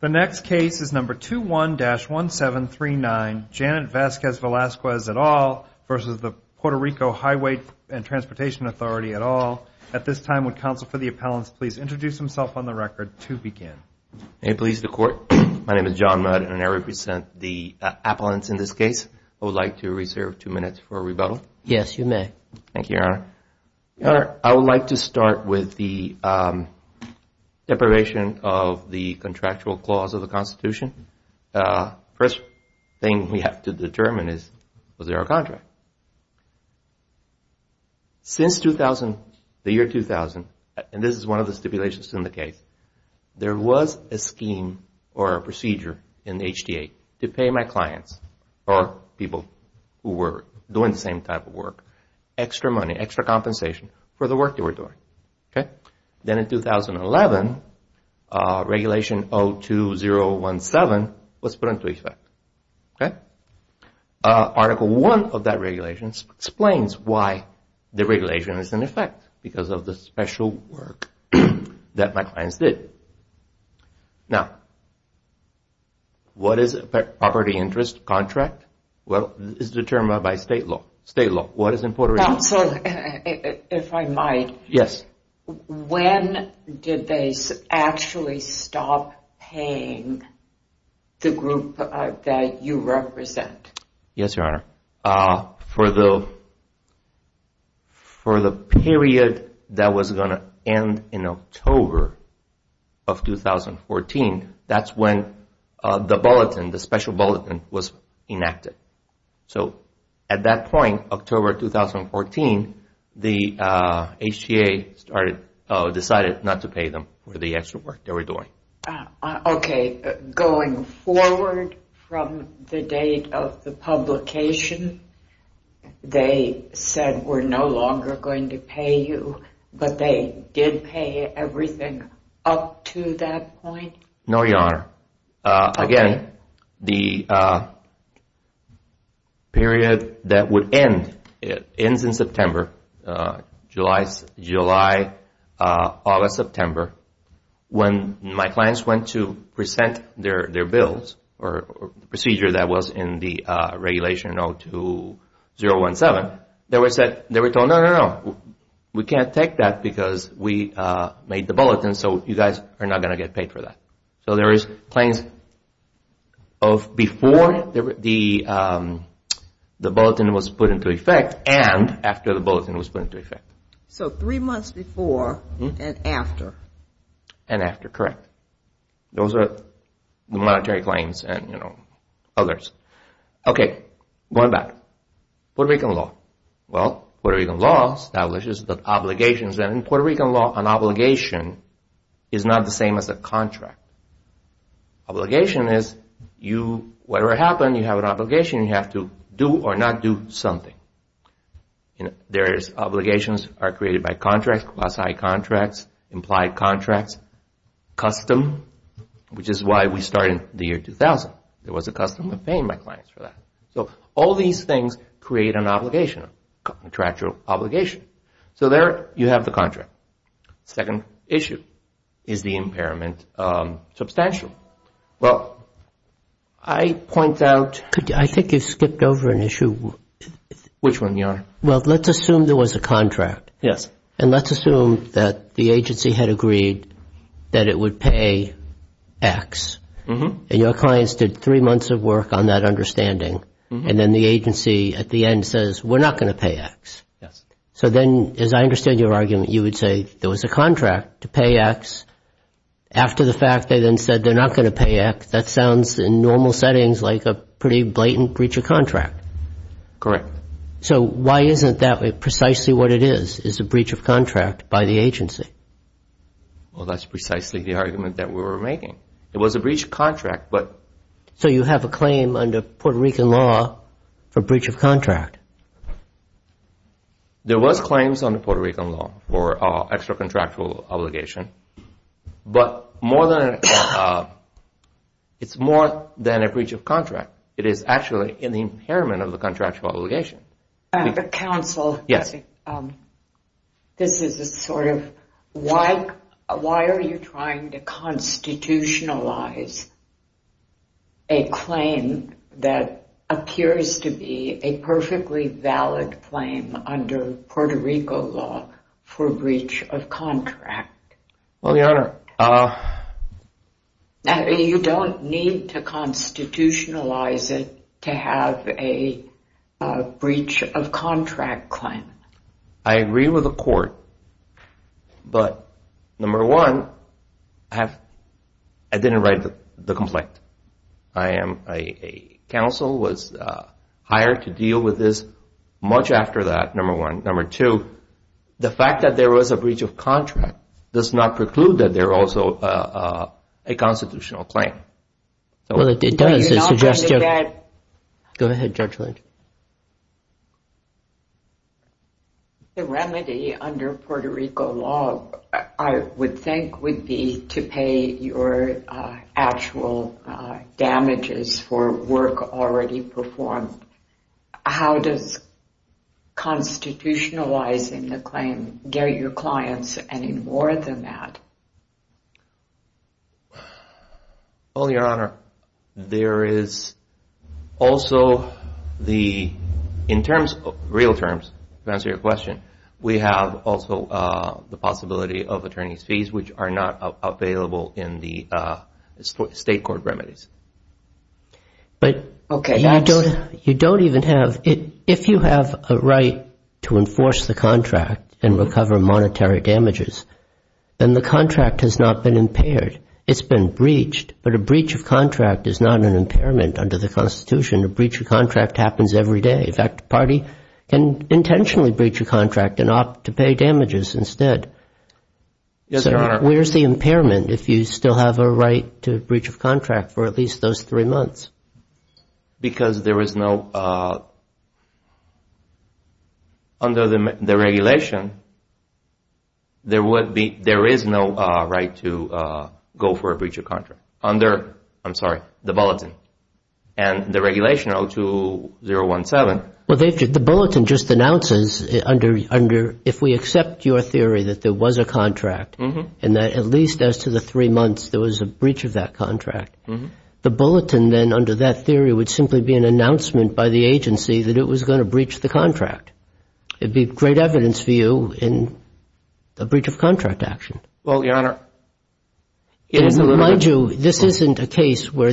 The next case is number 21-1739, Janet Vazquez-Velazquez et al. versus the Puerto Rico Highway and Transportation Authority et al. At this time, would counsel for the appellants please introduce himself on the record to begin? May it please the court, my name is John Mudd and I represent the appellants in this case. I would like to reserve two minutes for rebuttal. Yes, you may. Thank you, Your Honor. Your Honor, I would like to start with the deprivation of the contractual clause of the Constitution. First thing we have to determine is, was there a contract? Since 2000, the year 2000, and this is one of the stipulations in the case, there was a scheme or a procedure in the HDA to pay my clients or people who were doing the same type of work extra money, extra compensation for the work they were doing. Then in 2011, Regulation 02-017 was put into effect. Article 1 of that regulation explains why the regulation is in effect, because of the special work that my clients did. Now, what is a property interest contract? Well, it's determined by state law. What is in Puerto Rico? Counsel, if I might. Yes. When did they actually stop paying the group that you represent? Yes, Your Honor. For the period that was going to end in October of 2014, that's when the bulletin, the special bulletin was enacted. So at that point, October 2014, the HDA decided not to pay them for the extra work they were doing. Okay, going forward from the date of the publication, they said we're no longer going to pay you, but they did pay everything up to that point? No, Your Honor. Again, the period that would end, it ends in September, July, August, September, when my clients went to present their bills or the procedure that was in the Regulation 02-017, they were told, no, no, no, we can't take that because we made the bulletin, so you guys are not going to get paid for that. So there is claims of before the bulletin was put into effect and after the bulletin was put into effect. So three months before and after? And after, correct. Those are the monetary claims and, you know, others. Okay, going back, Puerto Rican law. Well, Puerto Rican law establishes the obligations, and in Puerto Rican law, an obligation is not the same as a contract. Obligation is, whatever happened, you have an obligation, you have to do or not do something. There's obligations are created by contracts, quasi-contracts, implied contracts, custom, which is why we started in the year 2000. There was a custom of paying my clients for that. So all these things create an obligation, a contractual obligation. So there you have the contract. Second issue, is the impairment substantial? Well, I point out... I think you skipped over an issue. Which one, Your Honor? Well, let's assume there was a contract. Yes. And let's assume that the agency had agreed that it would pay X, and your clients did three months of work on that understanding, and then the agency at the end says, we're not going to pay X. Yes. So then, as I understand your argument, you would say, there was a contract to pay X. After the fact, they then said they're not going to pay X. That sounds, in normal settings, like a pretty blatant breach of contract. Correct. So why isn't that precisely what it is, is a breach of contract by the agency? Well, that's precisely the argument that we were making. It was a breach of contract, but... So you have a claim under Puerto Rican law for breach of contract. There was claims under Puerto Rican law for extra-contractual obligation. But more than... It's more than a breach of contract. It is actually an impairment of the contractual obligation. At the counsel... Yes. This is a sort of... Why are you trying to constitutionalize a claim that appears to be a perfectly valid claim under Puerto Rico law for breach of contract? Well, Your Honor... You don't need to constitutionalize it to have a breach of contract claim. I agree with the court. But, number one, I didn't write the complaint. Counsel was hired to deal with this much after that, number one. Number two, the fact that there was a breach of contract does not preclude that there also a constitutional claim. Well, it does. You're not going to get that... Go ahead, Judge Lynch. The remedy under Puerto Rico law, I would think, would be to pay your actual damages for work already performed. How does constitutionalizing the claim get your clients any more than that? Well, Your Honor, there is also the... In terms of real terms, to answer your question, we have also the possibility of attorney's fees, which are not available in the state court remedies. But you don't even have... If you have a right to enforce the contract and recover monetary damages, then the contract has not been impaired. It's been breached. But a breach of contract is not an impairment under the Constitution. A breach of contract happens every day. In fact, the party can intentionally breach a contract and opt to pay damages instead. Yes, Your Honor. Where's the impairment if you still have a right to a breach of contract for at least those three months? Because there is no... Under the regulation, there is no right to go for a breach of contract. Under, I'm sorry, the bulletin. And the regulation, O2-017. Well, the bulletin just announces under... If we accept your theory that there was a contract and that at least as to the three months there was a breach of that contract, the bulletin then under that theory would simply be an announcement by the agency that it was going to breach the contract. It'd be great evidence for you in a breach of contract action. Well, Your Honor, it is a little bit...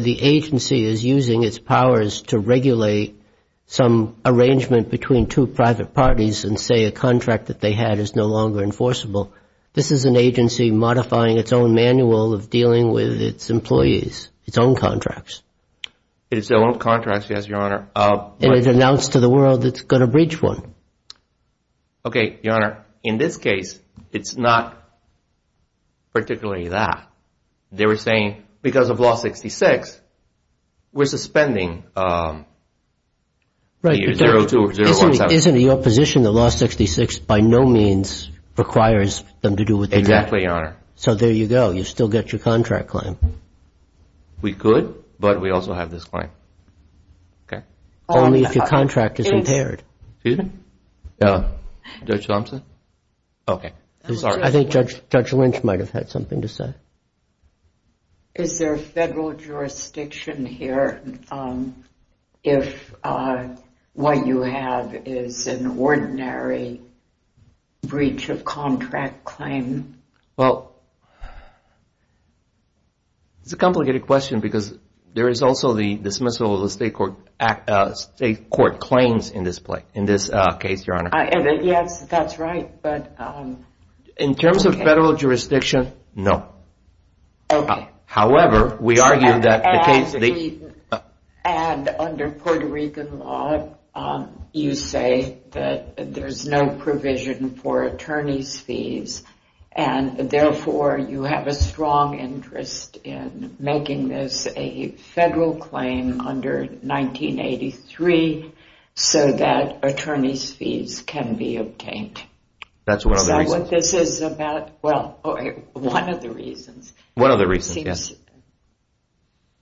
The agency is using its powers to regulate some arrangement between two private parties and say a contract that they had is no longer enforceable. This is an agency modifying its own manual of dealing with its employees, its own contracts. Its own contracts, yes, Your Honor. And it announced to the world it's going to breach one. Okay, Your Honor. In this case, it's not particularly that. They were saying because of Law 66, we're suspending O2-017. Isn't it your position that Law 66 by no means requires them to do what they do? Exactly, Your Honor. So there you go. You still get your contract claim. We could, but we also have this claim. Okay. Only if your contract is impaired. Excuse me? Judge Thompson? Okay, sorry. I think Judge Lynch might have had something to say. Is there federal jurisdiction here if what you have is an ordinary breach of contract claim? Well, it's a complicated question because there is also the dismissal of the state court claims in this case, Your Honor. Yes, that's right. In terms of federal jurisdiction, no. However, we argue that the case... And under Puerto Rican law, you say that there's no provision for attorney's fees and therefore you have a strong interest in making this a federal claim under 1983 so that attorney's fees can be obtained. That's one of the reasons. This is about... Well, one of the reasons. One of the reasons, yes.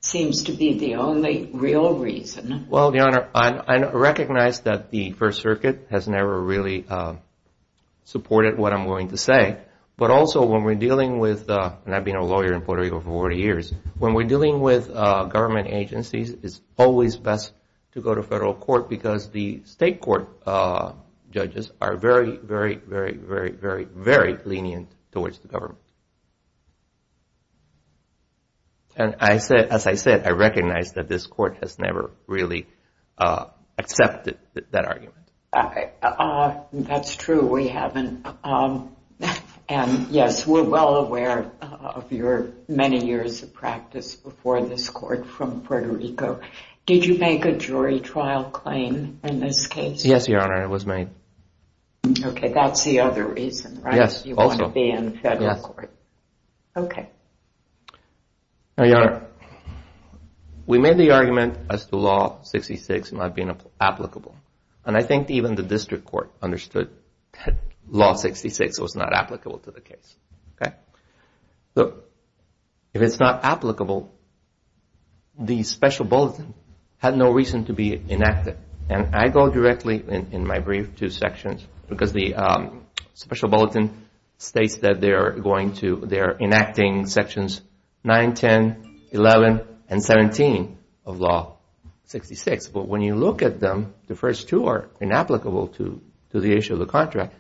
Seems to be the only real reason. Well, Your Honor, I recognize that the First Circuit has never really supported what I'm going to say, but also when we're dealing with... And I've been a lawyer in Puerto Rico for 40 years. When we're dealing with government agencies, it's always best to go to federal court because the state court judges are very, very, very, very, very lenient towards the government. And as I said, I recognize that this court has never really accepted that argument. That's true. We haven't. And yes, we're well aware of your many years of practice before this court from Puerto Rico. Did you make a jury trial claim in this case? Yes, Your Honor, I was made. Okay, that's the other reason, right? Yes, also. You want to be in federal court. Okay. Now, Your Honor, we made the argument as to Law 66 not being applicable. And I think even the district court understood that Law 66 was not applicable to the case. But if it's not applicable, the special bulletin had no reason to be enacted. And I go directly in my brief to sections because the special bulletin states that they're going to... They're enacting sections 9, 10, 11, and 17 of Law 66. But when you look at them, the first two are inapplicable to the issue of the contract.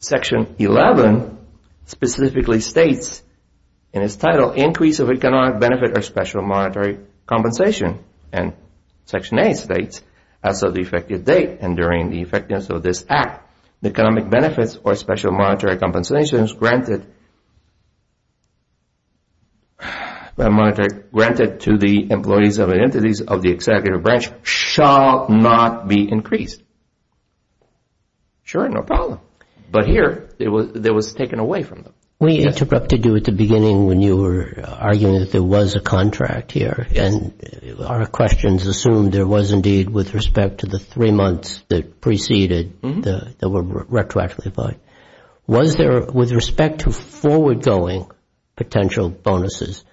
Section 11 specifically states in its title, increase of economic benefit or special monetary compensation. And section 8 states, as of the effective date and during the effectiveness of this act, the economic benefits or special monetary compensations granted to the employees of entities of the executive branch shall not be increased. Sure, no problem. But here, it was taken away from them. We interrupted you at the beginning when you were arguing that there was a contract here. And our questions assumed there was indeed with respect to the three months that preceded that were retroactively applied. Was there, with respect to forward going potential bonuses,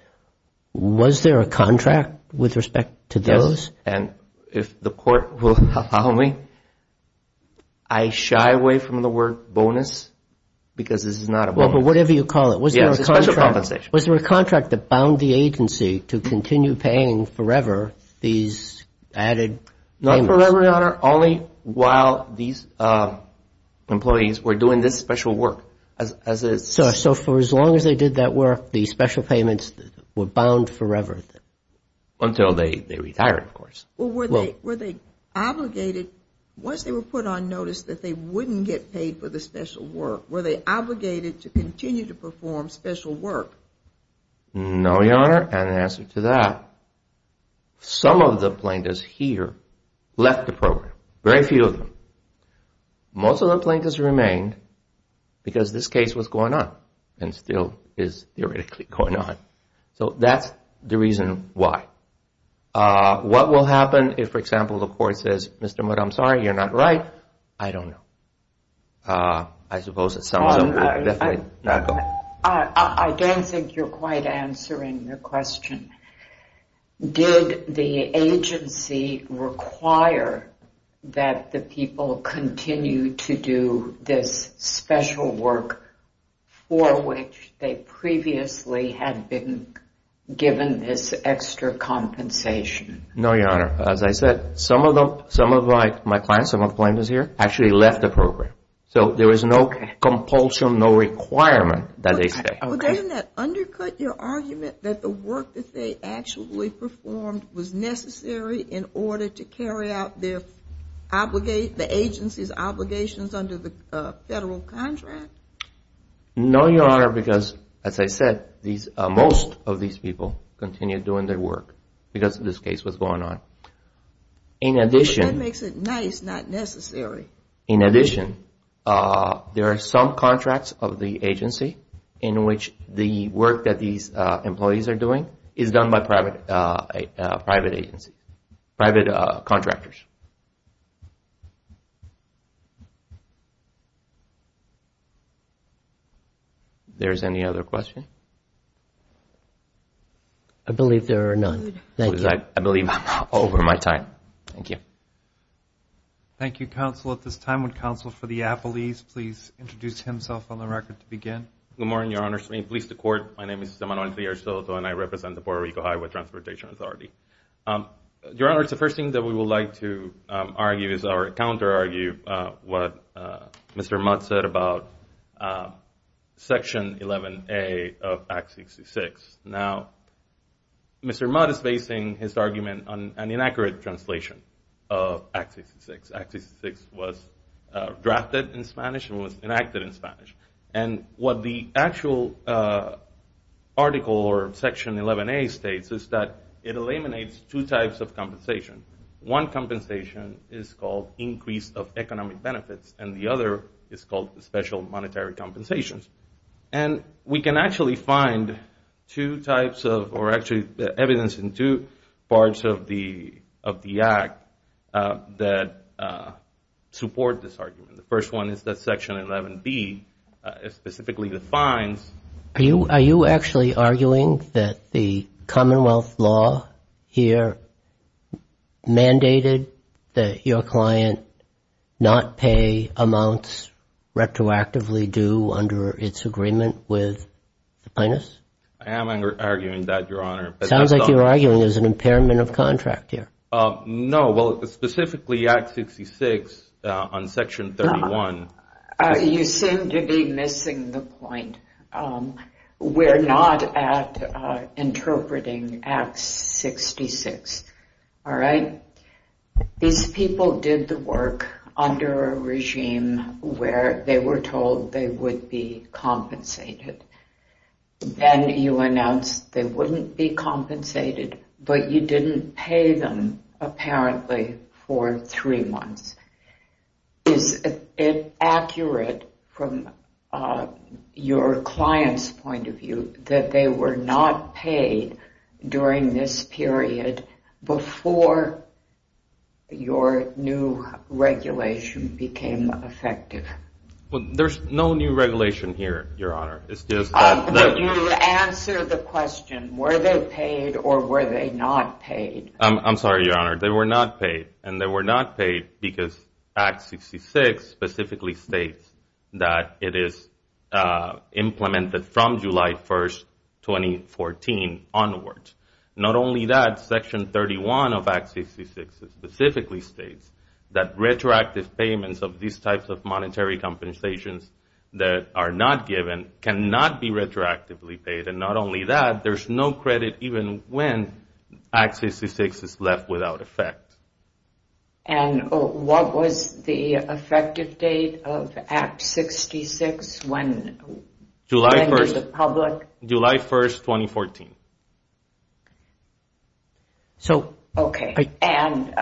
was there a contract with respect to those? And if the court will allow me, I shy away from the word bonus because this is not a bonus. But whatever you call it, was there a contract that bound the agency to continue paying forever these added payments? Not forever, Your Honor. Only while these employees were doing this special work. So for as long as they did that work, the special payments were bound forever? Until they retired, of course. Well, were they obligated, once they were put on notice that they wouldn't get paid for the special work, were they obligated to continue to perform special work? No, Your Honor. And in answer to that, some of the plaintiffs here left the program. Very few of them. Most of the plaintiffs remained because this case was going on and still is theoretically going on. So that's the reason why. What will happen if, for example, the court says, Mr. Mudd, I'm sorry. You're not right. I don't know. I suppose it sounds... I don't think you're quite answering the question. Did the agency require that the people continue to do this special work for which they previously had been given this extra compensation? No, Your Honor. As I said, some of my clients, some of the plaintiffs here, actually left the program. So there was no compulsion, no requirement that they stay. But doesn't that undercut your argument that the work that they actually performed was necessary in order to carry out the agency's obligations under the federal contract? No, Your Honor. Because, as I said, most of these people continue doing their work because of this case was going on. In addition... That makes it nice, not necessary. In addition, there are some contracts of the agency in which the work that these employees are doing is done by private contractors. Is there any other question? I believe there are none. Thank you. I believe I'm over my time. Thank you. Thank you, counsel. At this time, would counsel for the appellees please introduce himself on the record to begin? Good morning, Your Honor. My name is Emanuele Fierro Soto, and I represent the Puerto Rico Highway Transportation Authority. Your Honor, the first thing that we would like to argue is or counter-argue what Mr. Mudd said about Section 11A of Act 66. Now, Mr. Mudd is basing his argument on an inaccurate translation of Act 66. Act 66 was drafted in Spanish and was enacted in Spanish. And what the actual article or Section 11A states is that it eliminates two types of compensation. One compensation is called increase of economic benefits, and the other is called special monetary compensations. And we can actually find two types of or actually evidence in two parts of the Act that support this argument. The first one is that Section 11B specifically defines. Are you actually arguing that the Commonwealth law here mandated that your client not pay amounts retroactively due under its agreement with the plaintiffs? I am arguing that, Your Honor. Sounds like you're arguing there's an impairment of contract here. No, well, specifically Act 66 on Section 31. You seem to be missing the point. We're not at interpreting Act 66, all right? These people did the work under a regime where they were told they would be compensated. Then you announced they wouldn't be compensated, but you didn't pay them apparently for three months. Is it accurate from your client's point of view that they were not paid during this period before your new regulation became effective? Well, there's no new regulation here, Your Honor. It's just that... You answer the question, were they paid or were they not paid? I'm sorry, Your Honor. They were not paid, and they were not paid because Act 66 specifically states that it is implemented from July 1st, 2014 onwards. Not only that, Section 31 of Act 66 specifically states that retroactive payments of these types of monetary compensations that are not given cannot be retroactively paid. Not only that, there's no credit even when Act 66 is left without effect. What was the effective date of Act 66 when to the public? July 1st, 2014. Okay, and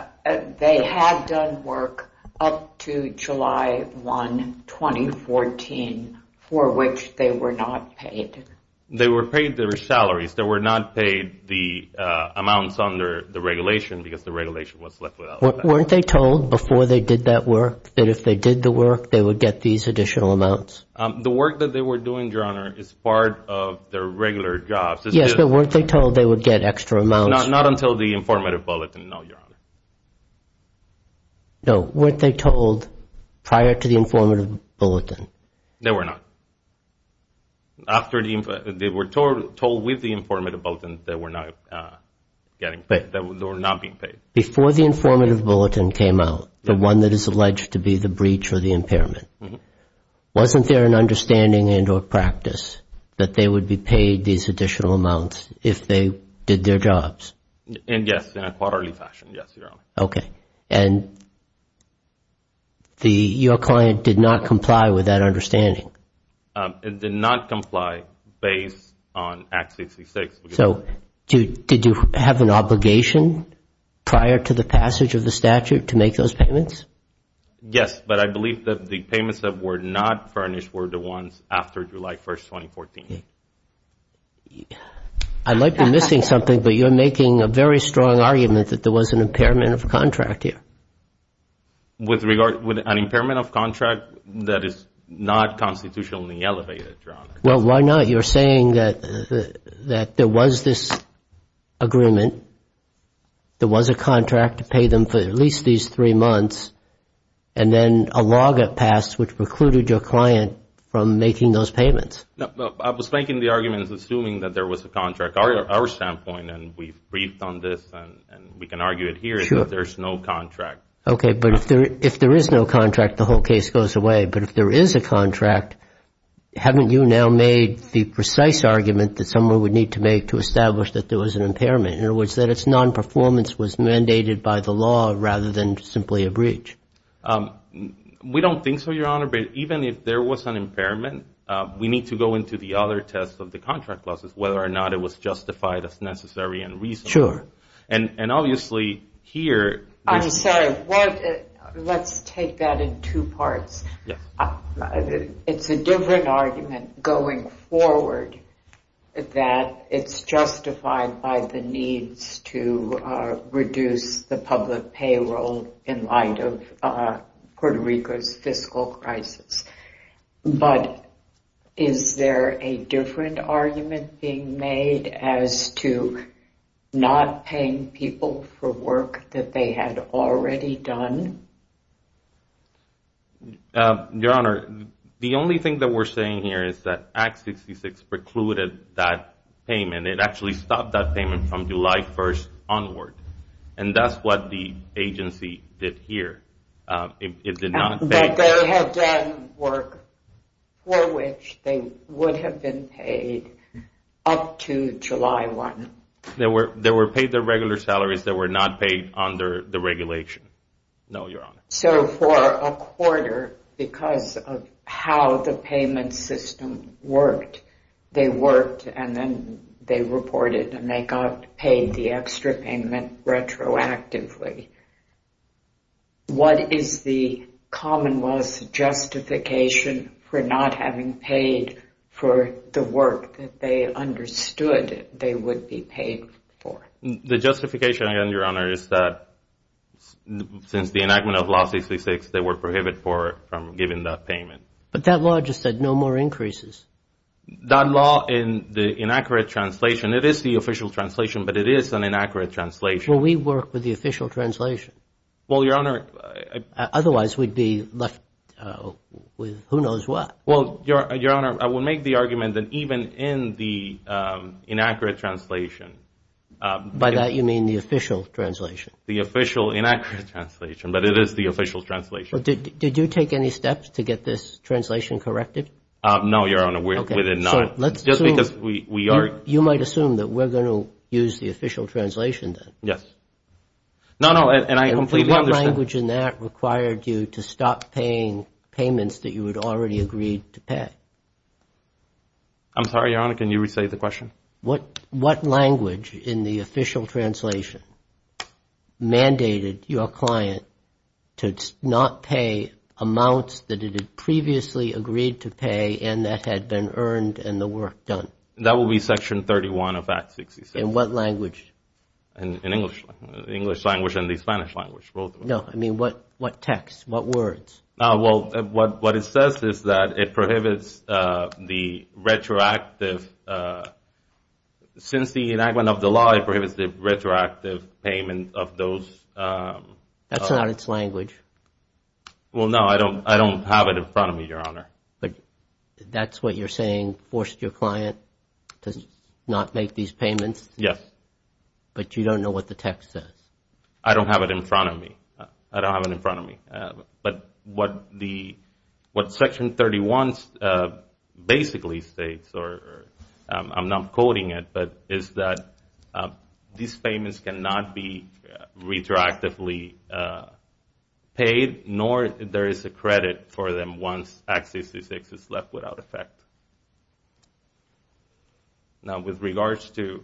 they had done work up to July 1, 2014 for which they were not paid? They were paid their salaries. They were not paid the amounts under the regulation because the regulation was left without effect. Weren't they told before they did that work that if they did the work, they would get these additional amounts? The work that they were doing, Your Honor, is part of their regular jobs. Yes, but weren't they told they would get extra amounts? Not until the informative bulletin, no, Your Honor. No, weren't they told prior to the informative bulletin? They were not. They were told with the informative bulletin that they were not being paid. Before the informative bulletin came out, the one that is alleged to be the breach or the impairment, wasn't there an understanding and or practice that they would be paid these additional amounts if they did their jobs? Yes, in a quarterly fashion, yes, Your Honor. Okay, and your client did not comply with that understanding? It did not comply based on Act 66. So did you have an obligation prior to the passage of the statute to make those payments? Yes, but I believe that the payments that were not furnished were the ones after July 1st, 2014. I might be missing something, but you're making a very strong argument that there was an impairment of contract here. With regard to an impairment of contract, that is not constitutionally elevated, Your Honor. Well, why not? You're saying that there was this agreement, there was a contract to pay them for at least these three months, and then a log up passed which precluded your client from making those payments. No, I was making the argument assuming that there was a contract. Our standpoint, and we've briefed on this and we can argue it here, is that there's no contract. Okay, but if there is no contract, the whole case goes away. But if there is a contract, haven't you now made the precise argument that someone would need to make to establish that there was an impairment? In other words, that its nonperformance was mandated by the law rather than simply a breach? We don't think so, Your Honor. But even if there was an impairment, we need to go into the other tests of the contract clauses, whether or not it was justified as necessary and reasonable. Sure. And obviously, here... I'm sorry. Let's take that in two parts. It's a different argument going forward that it's justified by the needs to reduce the public payroll in light of Puerto Rico's fiscal crisis. But is there a different argument being made as to not paying people for work that they had already done? Your Honor, the only thing that we're saying here is that Act 66 precluded that payment. It actually stopped that payment from July 1st onward. And that's what the agency did here. It did not pay... They had done work for which they would have been paid up to July 1. They were paid their regular salaries that were not paid under the regulation. No, Your Honor. So for a quarter, because of how the payment system worked, they worked and then they reported and they got paid the extra payment retroactively. What is the commonwealth's justification for not having paid for the work that they understood they would be paid for? The justification, Your Honor, is that since the enactment of Law 66, they were prohibited for giving that payment. But that law just said no more increases. That law, in the inaccurate translation... It is the official translation, but it is an inaccurate translation. Will we work with the official translation? Otherwise, we'd be left with who knows what. Well, Your Honor, I will make the argument that even in the inaccurate translation... By that, you mean the official translation? The official inaccurate translation, but it is the official translation. Did you take any steps to get this translation corrected? No, Your Honor, we did not. You might assume that we're going to use the official translation then? Yes. No, no, and I completely understand... What language in that required you to stop paying payments that you had already agreed to pay? I'm sorry, Your Honor, can you re-say the question? What language in the official translation mandated your client to not pay amounts that it had previously agreed to pay and that had been earned and the work done? That will be Section 31 of Act 66. In what language? In English language and the Spanish language, both. No, I mean, what text? What words? Well, what it says is that it prohibits the retroactive... Since the enactment of the law, it prohibits the retroactive payment of those... That's not its language. Well, no, I don't have it in front of me, Your Honor. But that's what you're saying forced your client to not make these payments? Yes. But you don't know what the text says? I don't have it in front of me. I don't have it in front of me. But what Section 31 basically states, or I'm not quoting it, but is that these payments cannot be retroactively paid, nor there is a credit for them once Act 66 is left without effect. Now, with regards to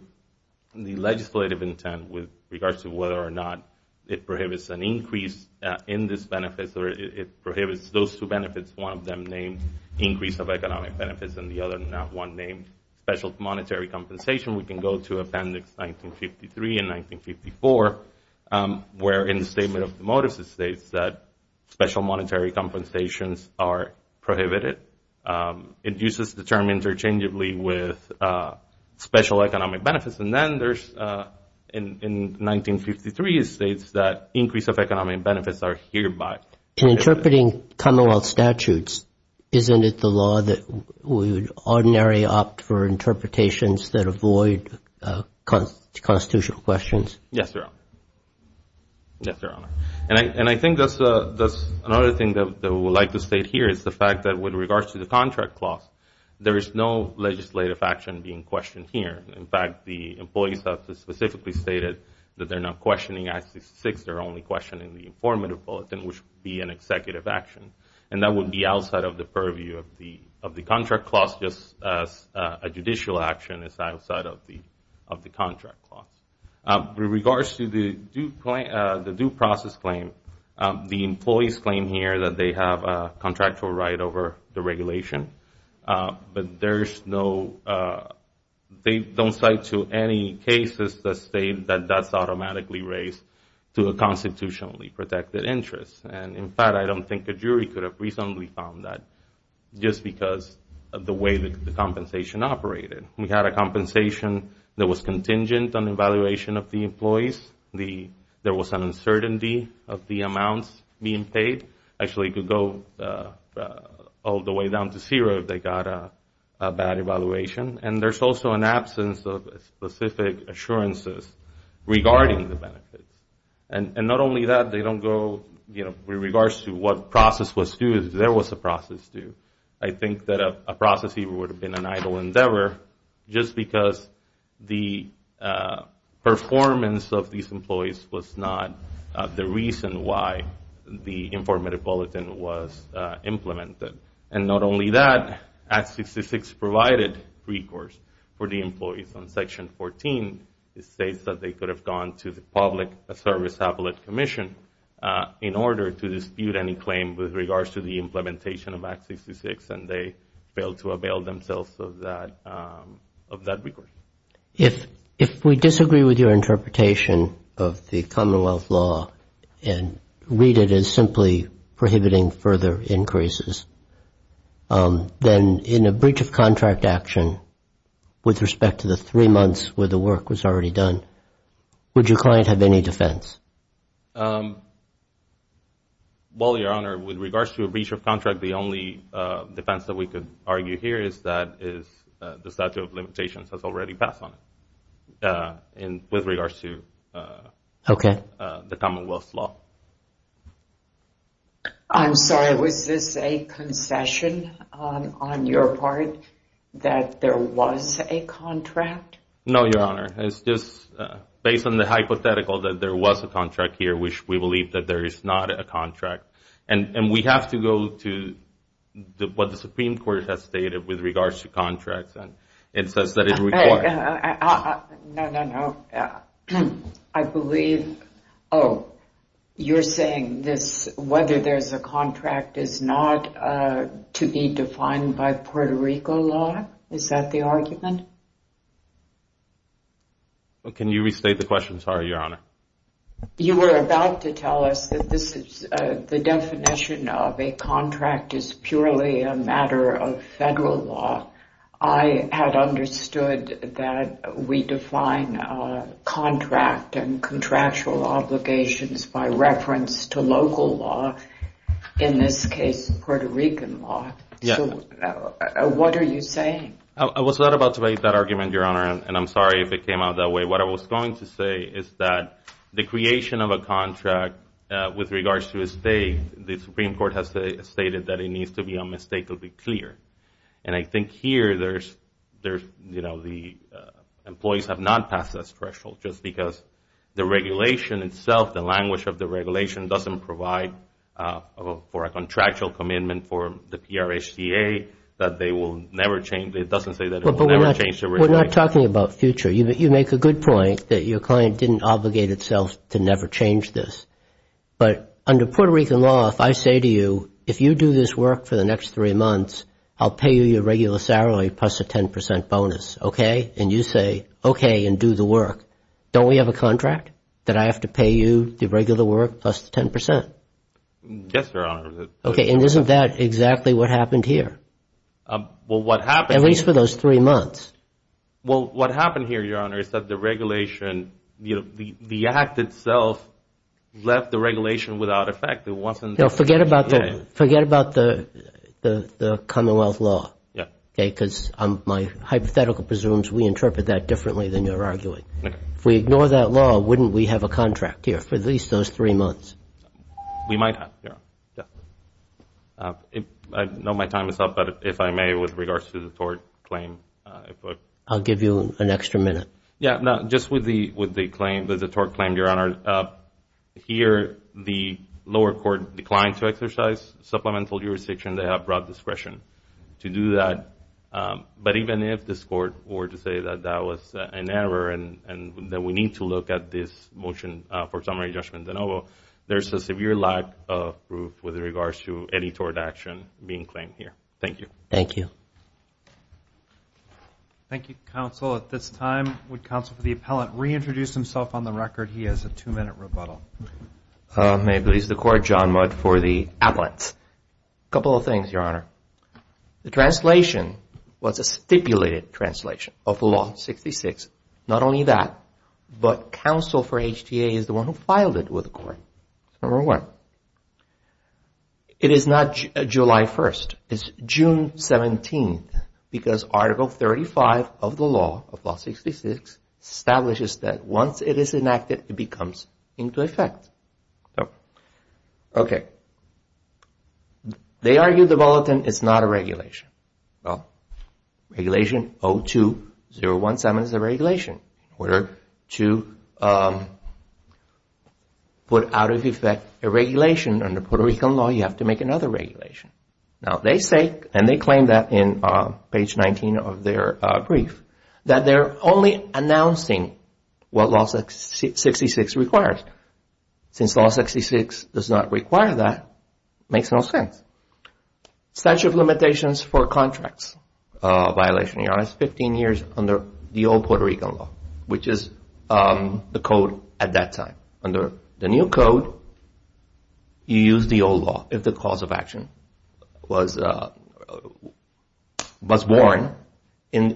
the legislative intent, with regards to whether or not it prohibits an increase in these benefits, or it prohibits those two benefits, one of them named Increase of Economic Benefits and the other not one named Special Monetary Compensation, we can go to Appendix 1953 and 1954, where in the Statement of the Motives, it states that special monetary compensations are prohibited. It uses the term interchangeably with special economic benefits. And then there's, in 1953, it states that increase of economic benefits are hereby. In interpreting commonwealth statutes, isn't it the law that we would ordinarily opt for interpretations that avoid constitutional questions? Yes, Your Honor. Yes, Your Honor. And I think that's another thing that we would like to state here is the fact that with regards to the contract clause, there is no legislative action being questioned here. In fact, the employees have specifically stated that they're not questioning Act 66. They're only questioning the informative bulletin, which would be an executive action. And that would be outside of the purview of the contract clause, just as a judicial action is outside of the contract clause. With regards to the due process claim, the employees claim here that they have a contractual right over the regulation. But there's no, they don't cite to any cases that state that that's automatically raised to a constitutionally protected interest. And in fact, I don't think a jury could have reasonably found that just because of the way that the compensation operated. We had a compensation that was contingent on evaluation of the employees. There was an uncertainty of the amounts being paid. Actually, it could go all the way down to zero if they got a bad evaluation. And there's also an absence of specific assurances regarding the benefits. And not only that, they don't go, you know, with regards to what process was due, if there was a process due. I think that a process would have been an idle endeavor just because the performance of these employees was not the reason why the informed metropolitan was implemented. And not only that, Act 66 provided recourse for the employees on Section 14. It states that they could have gone to the Public Service Appellate Commission in order to dispute any claim with regards to the implementation of Act 66. And they failed to avail themselves of that recourse. If we disagree with your interpretation of the Commonwealth law and read it as simply prohibiting further increases, then in a breach of contract action with respect to the three months where the work was already done, would your client have any defense? Well, Your Honor, with regards to a breach of contract, the only defense that we could pass on it with regards to the Commonwealth law. I'm sorry. Was this a concession on your part that there was a contract? No, Your Honor. It's just based on the hypothetical that there was a contract here, which we believe that there is not a contract. And we have to go to what the Supreme Court has stated with regards to contracts. It says that it's required. No, no, no. I believe, oh, you're saying whether there's a contract is not to be defined by Puerto Rico law? Is that the argument? Can you restate the question? Sorry, Your Honor. You were about to tell us that the definition of a contract is purely a matter of federal law. I had understood that we define contract and contractual obligations by reference to local law, in this case, Puerto Rican law. What are you saying? I was not about to make that argument, Your Honor. And I'm sorry if it came out that way. What I was going to say is that the creation of a contract with regards to a state, the Supreme Court has stated that it needs to be unmistakably clear. And I think here, there's, you know, the employees have not passed that threshold just because the regulation itself, the language of the regulation doesn't provide for a contractual commitment for the PRHCA that they will never change. It doesn't say that it will never change the regulation. We're not talking about future. You make a good point that your client didn't obligate itself to never change this. But under Puerto Rican law, if I say to you, if you do this work for the next three months, I'll pay you your regular salary plus a 10 percent bonus. OK? And you say, OK, and do the work. Don't we have a contract that I have to pay you the regular work plus 10 percent? Yes, Your Honor. OK. And isn't that exactly what happened here? Well, what happened? At least for those three months. Well, what happened here, Your Honor, is that the regulation, you know, the act itself left the regulation without effect. It wasn't. Now, forget about that. Forget about the Commonwealth law. Yeah. OK? Because my hypothetical presumes we interpret that differently than you're arguing. If we ignore that law, wouldn't we have a contract here for at least those three months? We might have, Your Honor. Yeah. I know my time is up, but if I may, with regards to the tort claim. I'll give you an extra minute. Yeah, just with the tort claim, Your Honor. Here, the lower court declined to exercise supplemental jurisdiction. They have broad discretion to do that. But even if this court were to say that that was an error and that we need to look at this motion for summary judgment de novo, there's a severe lack of proof with regards to any tort action being claimed here. Thank you. Thank you. Thank you, counsel. At this time, would counsel for the appellant reintroduce himself on the record? He has a two-minute rebuttal. May it please the court. John Mudd for the appellant. A couple of things, Your Honor. The translation was a stipulated translation of law 66. Not only that, but counsel for HTA is the one who filed it with the court. Number one, it is not July 1st. It's June 17th, because Article 35 of the law, of law 66, establishes that once it is enacted, it becomes into effect. OK. They argue the bulletin is not a regulation. Well, regulation 02-017 is a regulation. In order to put out of effect a regulation under Puerto Rican law, you have to make another regulation. Now, they say, and they claim that in page 19 of their brief, that they're only announcing what law 66 requires. Since law 66 does not require that, it makes no sense. Statute of limitations for contracts violation, Your Honor, is 15 years under the old Puerto Rican law, which is the code at that time. Under the new code, you use the old law if the cause of action was born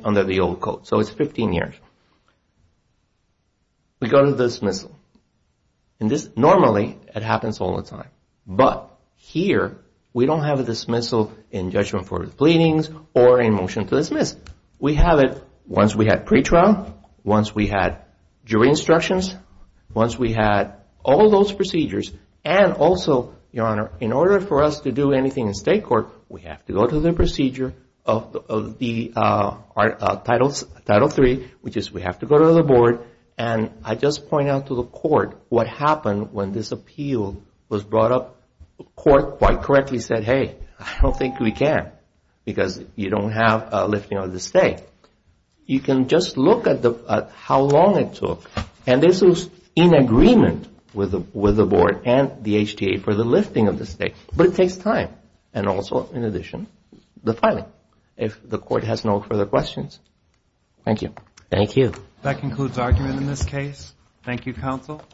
under the old code. It's 15 years. We go to dismissal. Normally, it happens all the time. But here, we don't have a dismissal in judgment for pleadings or in motion to dismiss. We have it once we had pretrial, once we had jury instructions, once we had all those procedures. And also, Your Honor, in order for us to do anything in state court, we have to go to the procedure of Title III, which is we have to go to the board. And I just point out to the court what happened when this appeal was brought up. The court quite correctly said, hey, I don't think we can because you don't have lifting of the state. You can just look at how long it took. And this was in agreement with the board and the HTA for the lifting of the state. But it takes time. And also, in addition, the filing. If the court has no further questions. Thank you. Thank you. That concludes argument in this case. Thank you, counsel.